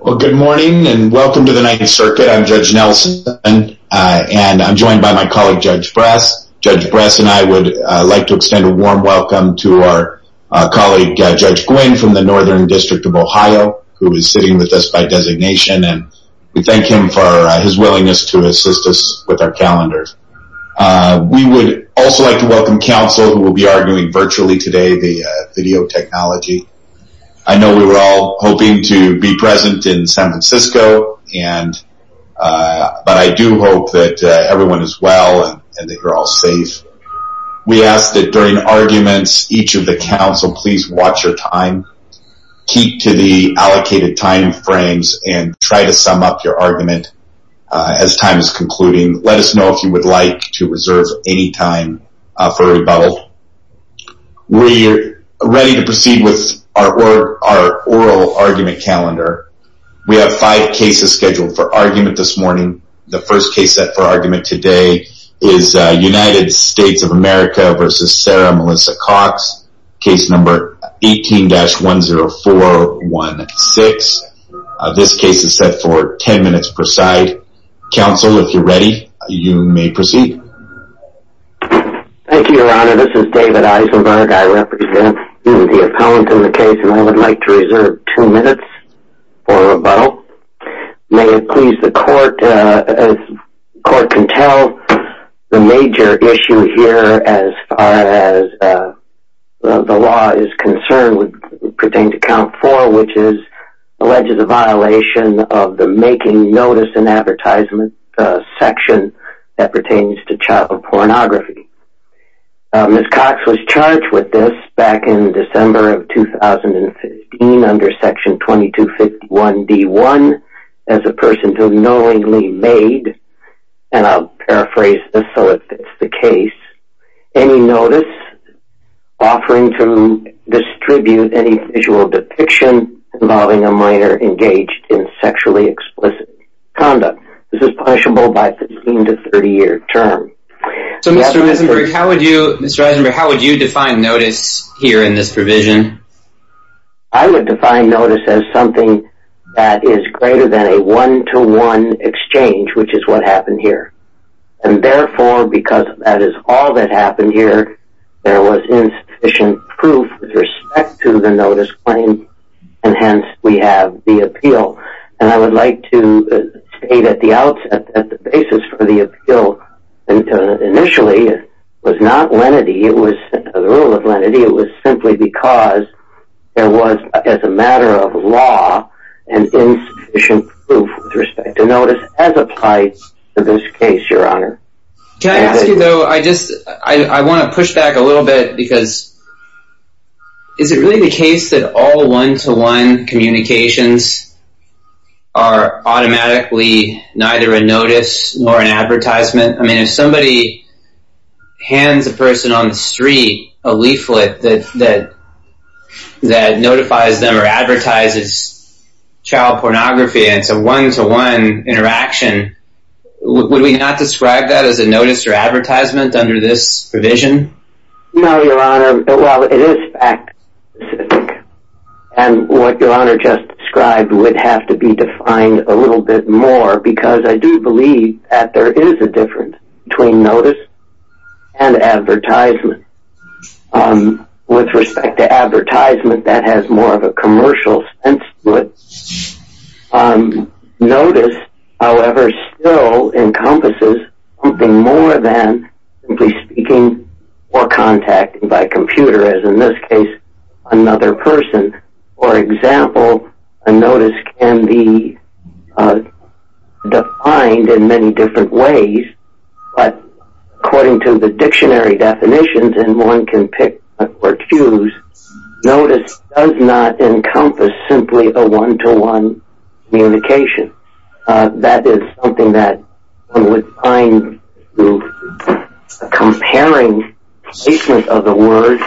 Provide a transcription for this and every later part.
Well good morning and welcome to the Ninth Circuit. I'm Judge Nelson and I'm joined by my colleague Judge Brass. Judge Brass and I would like to extend a warm welcome to our colleague Judge Gwinn from the Northern District of Ohio who is sitting with us by designation and we thank him for his willingness to assist us with our calendars. We would also like to welcome counsel who will be arguing virtually today the video technology. I know we were all hoping to be present in San Francisco and but I do hope that everyone is well and that you're all safe. We ask that during arguments each of the council please watch your time, keep to the allocated time frames and try to sum up your argument as time is concluding. Let us know if you would like to reserve any time for rebuttal. We are ready to proceed with our oral argument calendar. We have five cases scheduled for argument this morning. The first case set for argument today is United States of America v. Sarah Melissa Cox case number 18-10416. This case is set for 10 minutes per side. Counsel if you're ready you may proceed. Thank you, Your Honor. This is David Eisenberg. I represent the appellant in the case and I would like to reserve two minutes for rebuttal. May it please the court as the court can tell the major issue here as far as the law is concerned would pertain to count four which is alleges a violation of the child pornography. Ms. Cox was charged with this back in December of 2015 under section 2251 D1 as a person who knowingly made and I'll paraphrase this so it fits the case any notice offering to distribute any visual depiction involving a minor engaged in sexually explicit conduct. This is punishable by 15 to 30 year term. So Mr. Eisenberg, how would you define notice here in this provision? I would define notice as something that is greater than a one-to-one exchange which is what happened here and therefore because that is all that happened here there was insufficient proof with respect to the notice claim and hence we have the appeal and I would like to say that the basis for the appeal initially was not lenity, it was simply because there was as a matter of law an insufficient proof with respect to notice as applied to this case, Your Honor. Can I ask you though, I want to push back a little bit because is it really the case that all one-to-one communications are automatically neither a notice nor an advertisement? I mean if somebody hands a person on the street a leaflet that that that notifies them or advertises child pornography and it's a one-to-one interaction, would we not describe that as a notice or advertisement under this provision? No, Your Honor. Well, it is fact specific and what Your Honor just described would have to be defined a little bit more because I do believe that there is a difference between notice and advertisement. With respect to advertisement that has more of a commercial sense split. Notice, however, still encompasses something more than simply speaking or contacting by computer as in this case another person. For example, a notice can be defined in many different ways but according to the dictionary definitions and one can pick or choose, notice does not encompass simply a one-to-one communication. That is something that I would find comparing the placement of the words.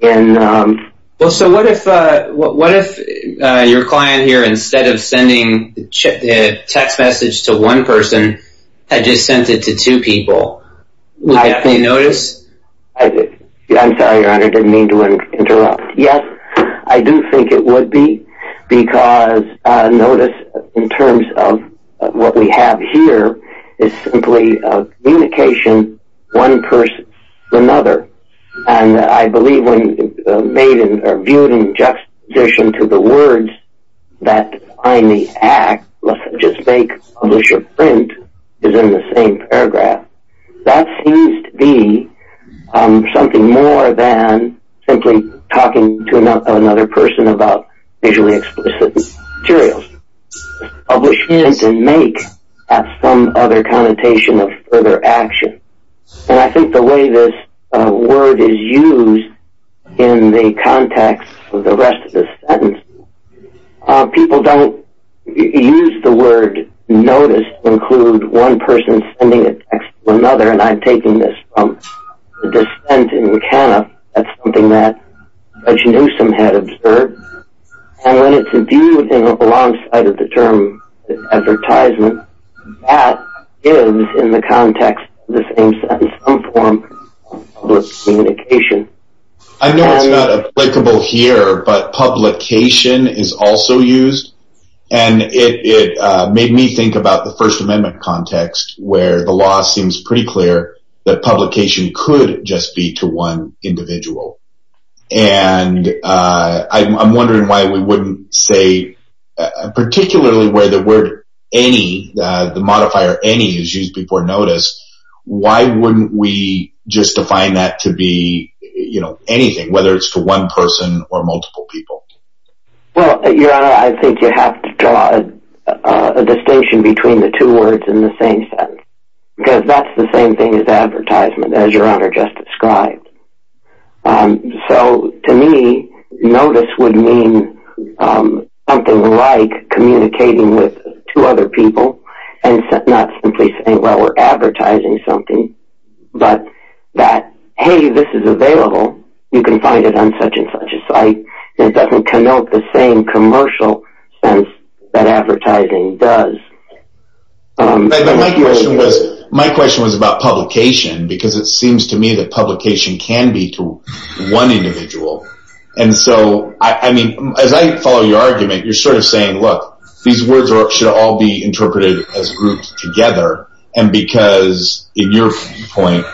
Well, so what if your client here instead of sending a text message to one person had just sent it to two people? Would that be notice? I'm sorry, Your Honor. I didn't mean to interrupt. Yes, I do think it would be because notice in terms of what we have here is simply a communication one person to another. And I believe when viewed in juxtaposition to the words that I may act, let's just make, publish, or print is in the same paragraph. That seems to be something more than simply talking to another person about visually explicit materials. Publish, print, and make have some other connotation of further action. And I think the way this word is used in the context of the rest of this sentence, people don't use the word notice to include one person sending a text to another. And I'm taking this from the dissent in McAnuff. That's something that Judge Newsom had observed. And when it's viewed alongside of the term advertisement, that is in the context of the same sentence some form of public communication. I know it's not applicable here, but publication is also used. And it made me think about the First Amendment context where the law seems pretty clear that publication could just be to one individual. And I'm wondering why we wouldn't say, particularly where the word any, the modifier any is used before notice, why wouldn't we just define that to be anything, whether it's to one person or multiple people? Well, Your Honor, I think you have to draw a distinction between the two words in the same sentence. Because that's the same thing as advertisement, as Your Honor just described. So to me, notice would mean something like communicating with two other people and not simply saying, well, we're advertising something. But that, hey, this is available. You can find it on such and such a site. And it doesn't connote the same commercial sense that advertising does. My question was about publication, because it seems to me that publication can be to one individual. And so, I mean, as I follow your argument, you're sort of saying, look, these words should all be interpreted as grouped together. And because, in your point,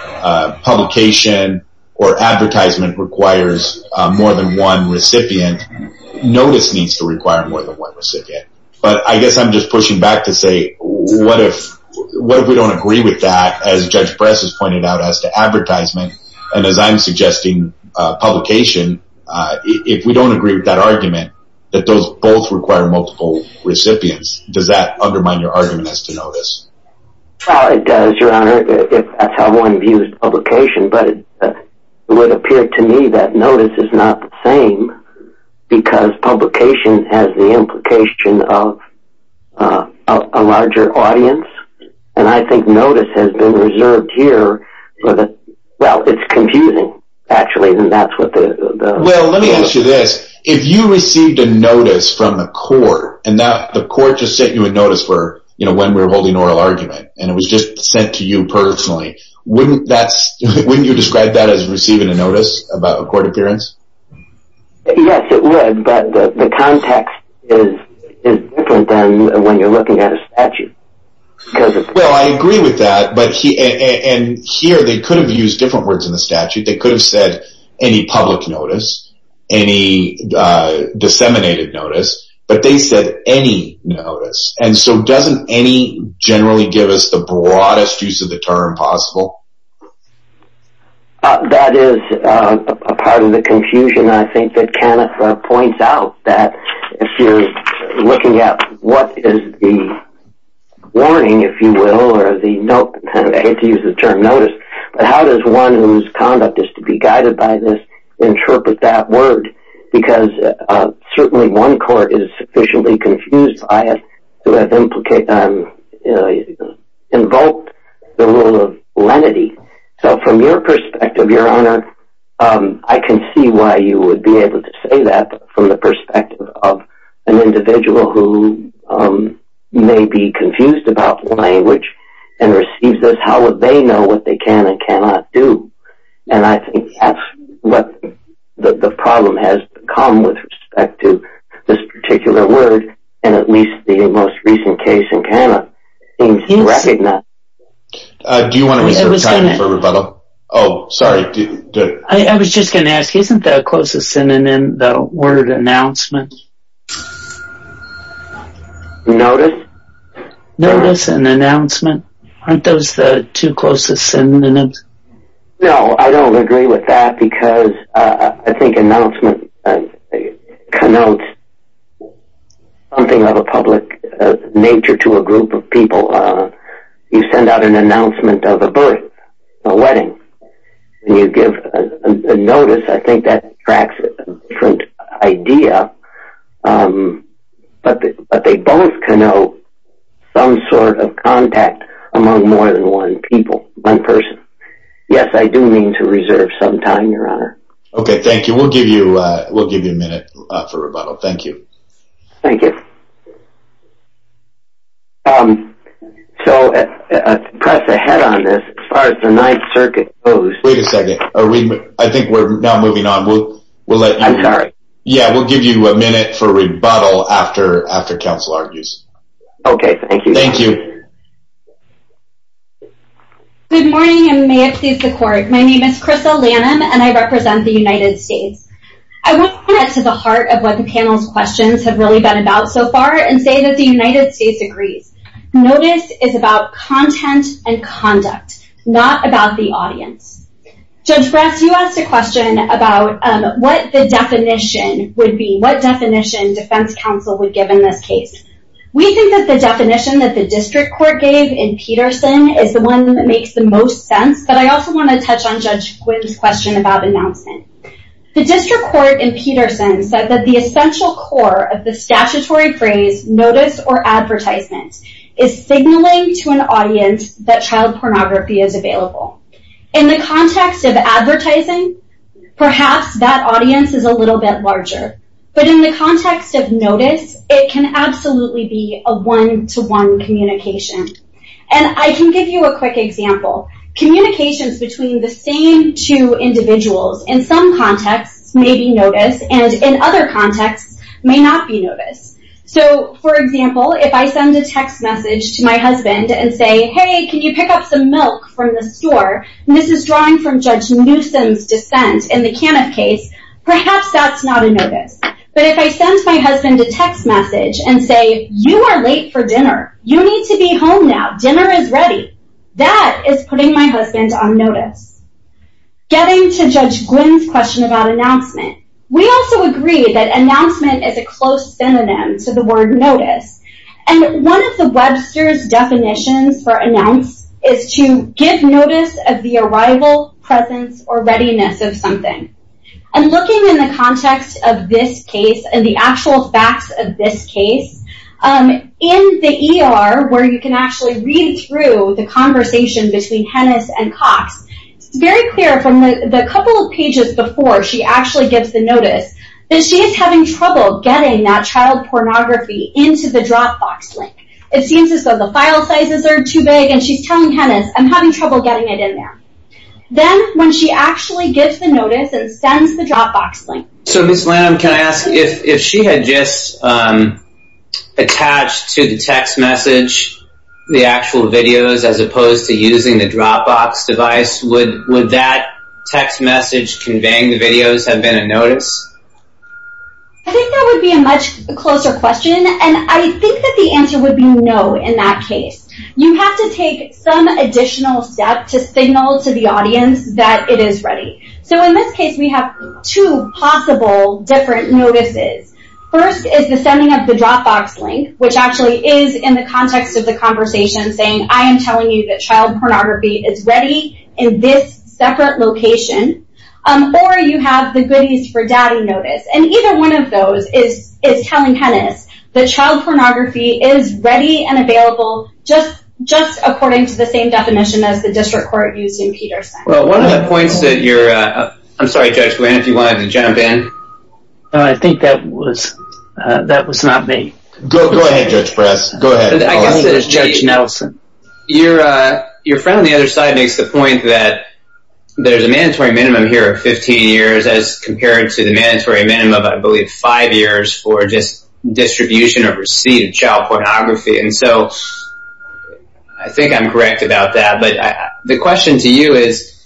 publication or advertisement requires more than one recipient, notice needs to require more than one recipient. But I guess I'm just pushing back to say, what if we don't agree with that, as Judge Press has pointed out, as to advertisement? And as I'm suggesting, publication, if we don't agree with that argument, that those both require multiple recipients, does that undermine your argument as to notice? It does, Your Honor, if that's how one views publication. But it would appear to me that notice is not the same, because publication has the implication of a larger audience. And I think notice has been reserved here. Well, it's confusing, actually, and that's what the… Well, let me ask you this. If you received a notice from the court, and the court just sent you a notice for, you know, when we were holding an oral argument, and it was just sent to you personally, wouldn't you describe that as receiving a notice about a court appearance? Yes, it would, but the context is different than when you're looking at a statute. Well, I agree with that, and here they could have used different words in the statute. They could have said any public notice, any disseminated notice, but they said any notice. And so doesn't any generally give us the broadest use of the term possible? That is a part of the confusion, I think, that Kenneth points out, that if you're looking at what is the warning, if you will, or the note, I hate to use the term notice, but how does one whose conduct is to be guided by this interpret that word? Because certainly one court is sufficiently confused by it to have invoked the rule of lenity. So from your perspective, Your Honor, I can see why you would be able to say that from the perspective of an individual who may be confused about language and receives this. How would they know what they can and cannot do? And I think that's what the problem has become with respect to this particular word, and at least the most recent case in Canada seems to recognize it. Do you want to reserve time for rebuttal? Oh, sorry. I was just going to ask, isn't the closest synonym the word announcement? Notice? Notice and announcement, aren't those the two closest synonyms? No, I don't agree with that, because I think announcement connotes something of a public nature to a group of people. You send out an announcement of a birth, a wedding, and you give a notice, I think that tracks a different idea, but they both connote some sort of contact among more than one person. Yes, I do mean to reserve some time, Your Honor. Okay, thank you. We'll give you a minute for rebuttal. Thank you. Thank you. So, to press ahead on this, as far as the Ninth Circuit goes... Wait a second. I think we're now moving on. I'm sorry. Yeah, we'll give you a minute for rebuttal after counsel argues. Okay, thank you. Thank you. Good morning, and may it please the Court. My name is Crystal Lanham, and I represent the United States. I want to get to the heart of what the panel's questions have really been about so far, and say that the United States agrees. Notice is about content and conduct, not about the audience. Judge Bress, you asked a question about what the definition would be, what definition defense counsel would give in this case. We think that the definition that the district court gave in Peterson is the one that makes the most sense, but I also want to touch on Judge Quinn's question about announcement. The district court in Peterson said that the essential core of the statutory phrase, notice or advertisement, is signaling to an audience that child pornography is available. In the context of advertising, perhaps that audience is a little bit larger. But in the context of notice, it can absolutely be a one-to-one communication. And I can give you a quick example. Communications between the same two individuals, in some contexts, may be notice, and in other contexts, may not be notice. So, for example, if I send a text message to my husband and say, hey, can you pick up some milk from the store? And this is drawing from Judge Newsom's dissent in the Caniff case, perhaps that's not a notice. But if I send my husband a text message and say, you are late for dinner. You need to be home now. Dinner is ready. That is putting my husband on notice. Getting to Judge Quinn's question about announcement, we also agree that announcement is a close synonym to the word notice. And one of the Webster's definitions for announce is to give notice of the arrival, presence, or readiness of something. And looking in the context of this case, and the actual facts of this case, in the ER, where you can actually read through the conversation between Hennis and Cox, it's very clear from the couple of pages before she actually gives the notice, that she is having trouble getting that child pornography into the Dropbox link. It seems as though the file sizes are too big, and she's telling Hennis, I'm having trouble getting it in there. Then, when she actually gives the notice and sends the Dropbox link. So Ms. Lamb, can I ask, if she had just attached to the text message, the actual videos, as opposed to using the Dropbox device, would that text message conveying the videos have been a notice? I think that would be a much closer question, and I think that the answer would be no in that case. You have to take some additional step to signal to the audience that it is ready. So in this case, we have two possible different notices. First is the sending of the Dropbox link, which actually is in the context of the conversation saying, I am telling you that child pornography is ready in this separate location. Or you have the goodies for daddy notice. And either one of those is telling Hennis that child pornography is ready and available, just according to the same definition as the district court used in Peterson. Well, one of the points that you're, I'm sorry Judge Wynn, if you wanted to jump in. I think that was not me. Go ahead Judge Press. Go ahead. I guess it is Judge Nelson. Your friend on the other side makes the point that there's a mandatory minimum here of 15 years, as compared to the mandatory minimum of, I believe, five years for just distribution or receipt of child pornography. And so I think I'm correct about that. But the question to you is,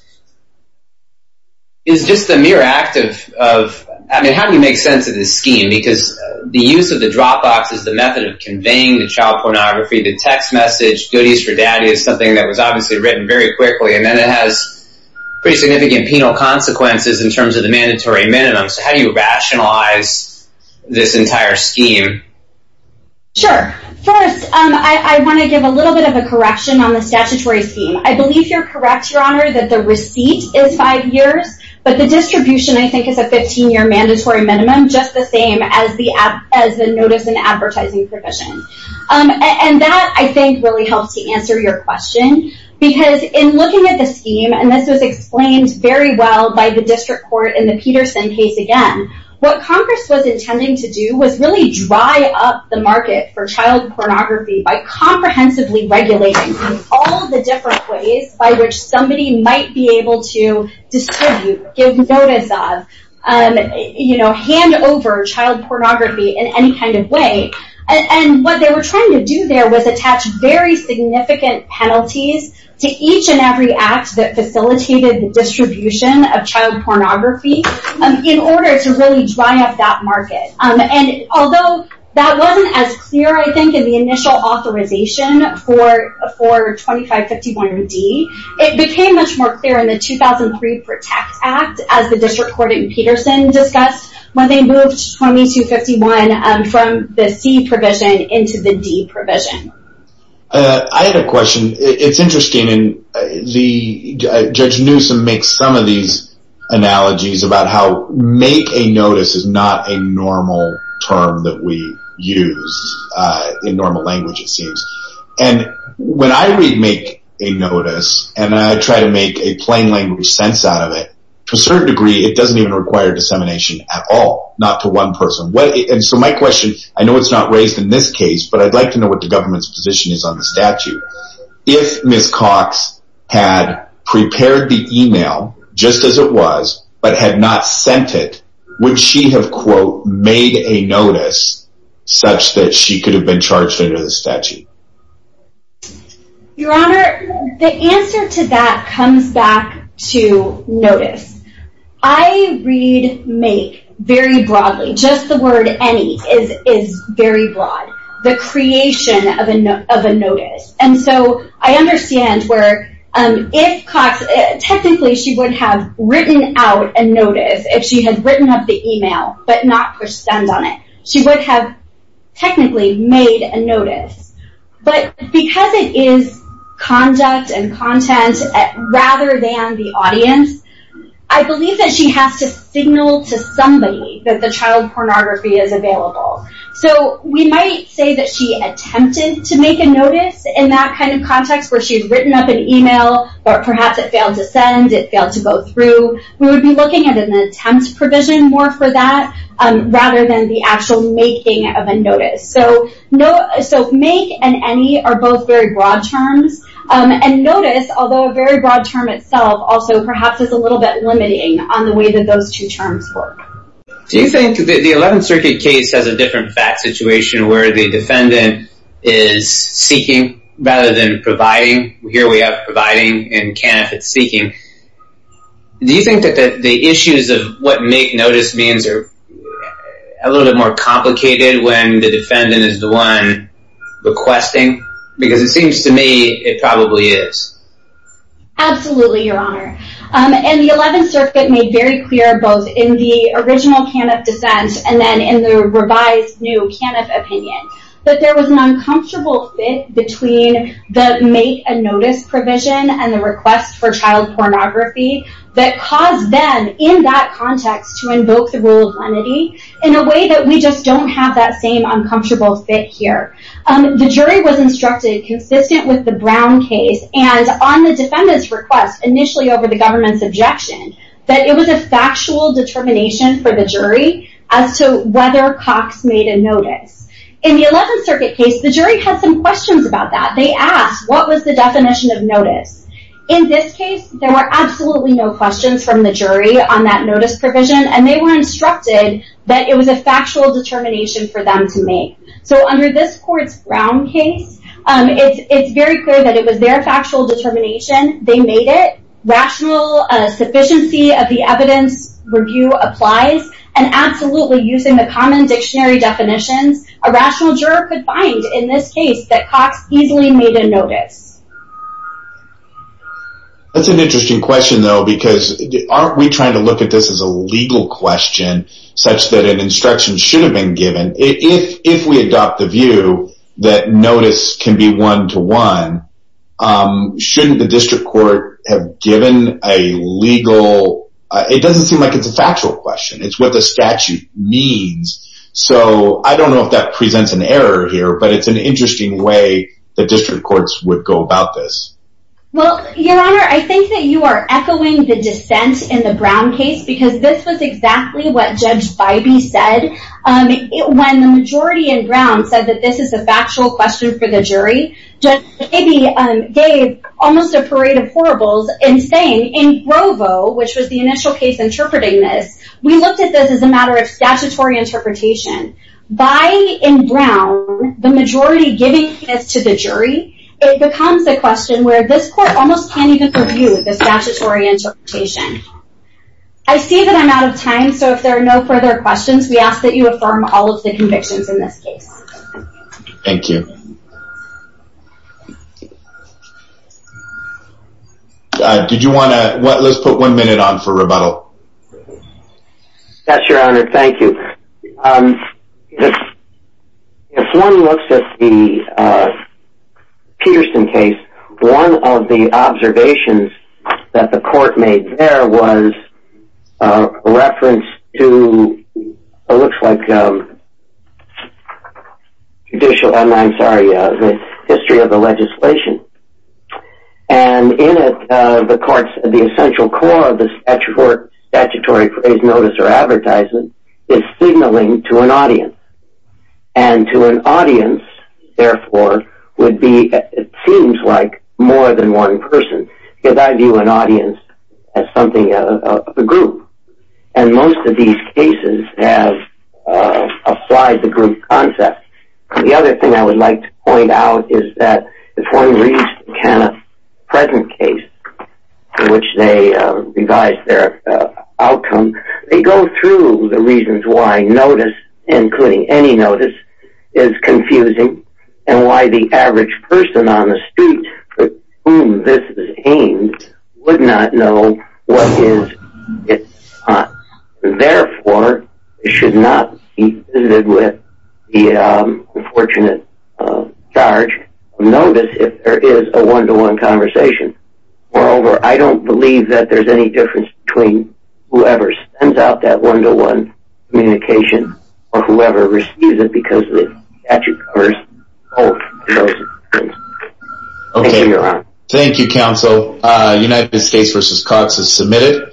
is just the mere act of, I mean, how do you make sense of this scheme? Because the use of the Dropbox is the method of conveying the child pornography. The text message, goodies for daddy, is something that was obviously written very quickly. And then it has pretty significant penal consequences in terms of the mandatory minimum. So how do you rationalize this entire scheme? Sure. First, I want to give a little bit of a correction on the statutory scheme. I believe you're correct, Your Honor, that the receipt is five years. But the distribution, I think, is a 15-year mandatory minimum, just the same as the notice and advertising provision. And that, I think, really helps to answer your question. Because in looking at the scheme, and this was explained very well by the district court in the Peterson case again, what Congress was intending to do was really dry up the market for child pornography by comprehensively regulating all the different ways by which somebody might be able to distribute, give notice of, hand over child pornography in any kind of way. And what they were trying to do there was attach very significant penalties to each and every act that facilitated the distribution of child pornography in order to really dry up that market. And although that wasn't as clear, I think, in the initial authorization for 2551-D, it became much more clear in the 2003 PROTECT Act, as the district court in Peterson discussed, when they moved 2551 from the C provision into the D provision. I had a question. It's interesting. Judge Newsom makes some of these analogies about how make a notice is not a normal term that we use in normal language, it seems. And when I read make a notice, and I try to make a plain language sense out of it, to a certain degree, it doesn't even require dissemination at all, not to one person. And so my question, I know it's not raised in this case, but I'd like to know what the government's position is on the statute. If Ms. Cox had prepared the email, just as it was, but had not sent it, would she have, quote, made a notice such that she could have been charged under the statute? Your Honor, the answer to that comes back to notice. I read make very broadly. Just the word any is very broad. The creation of a notice. And so I understand where if Cox, technically she would have written out a notice, if she had written up the email, but not pushed send on it. She would have technically made a notice. But because it is conduct and content, rather than the audience, I believe that she has to signal to somebody that the child pornography is available. So we might say that she attempted to make a notice in that kind of context, where she had written up an email, but perhaps it failed to send, it failed to go through. We would be looking at an attempt provision more for that, rather than the actual making of a notice. So make and any are both very broad terms. And notice, although a very broad term itself, also perhaps is a little bit limiting on the way that those two terms work. Do you think that the 11th Circuit case has a different fact situation, where the defendant is seeking rather than providing? Here we have providing and can if it's seeking. Do you think that the issues of what make notice means are a little bit more complicated when the defendant is the one requesting? Because it seems to me it probably is. Absolutely, Your Honor. And the 11th Circuit made very clear, both in the original Caniff dissent and then in the revised new Caniff opinion, that there was an uncomfortable fit between the make and notice provision and the request for child pornography, that caused them, in that context, to invoke the rule of lenity in a way that we just don't have that same uncomfortable fit here. The jury was instructed, consistent with the Brown case, and on the defendant's request, initially over the government's objection, that it was a factual determination for the jury as to whether Cox made a notice. In the 11th Circuit case, the jury had some questions about that. They asked, what was the definition of notice? In this case, there were absolutely no questions from the jury on that notice provision and they were instructed that it was a factual determination for them to make. So under this court's Brown case, it's very clear that it was their factual determination, they made it. Rational sufficiency of the evidence review applies and absolutely, using the common dictionary definitions, a rational juror could find, in this case, that Cox easily made a notice. That's an interesting question, though, because aren't we trying to look at this as a legal question, such that an instruction should have been given? If we adopt the view that notice can be one-to-one, shouldn't the district court have given a legal... It doesn't seem like it's a factual question. It's what the statute means. So I don't know if that presents an error here, but it's an interesting way the district courts would go about this. Well, Your Honor, I think that you are echoing the dissent in the Brown case because this was exactly what Judge Bybee said. When the majority in Brown said that this is a factual question for the jury, Judge Bybee gave almost a parade of horribles in saying, in Grovo, which was the initial case interpreting this, we looked at this as a matter of statutory interpretation. By, in Brown, the majority giving this to the jury, it becomes a question where this court almost can't even purview the statutory interpretation. I see that I'm out of time, so if there are no further questions, we ask that you affirm all of the convictions in this case. Thank you. Let's put one minute on for rebuttal. Yes, Your Honor, thank you. If one looks at the Peterson case, one of the observations that the court made there was a reference to, it looks like, judicial, I'm sorry, the history of the legislation. And in it, the court's, the essential core of the statutory notice or advertisement is signaling to an audience. And to an audience, therefore, would be, it seems like, more than one person. Because I view an audience as something, a group. And most of these cases have applied the group concept. The other thing I would like to point out is that, if one reads Kenneth's present case, in which they revise their outcome, they go through the reasons why notice, including any notice, is confusing. And why the average person on the street for whom this is aimed, would not know what is, is not. Therefore, it should not be visited with the unfortunate charge of notice if there is a one-to-one conversation. Moreover, I don't believe that there is any difference between whoever sends out that one-to-one communication or whoever receives it because the statute covers both. Thank you, Your Honor. Thank you, Counsel. United States v. Cox is submitted.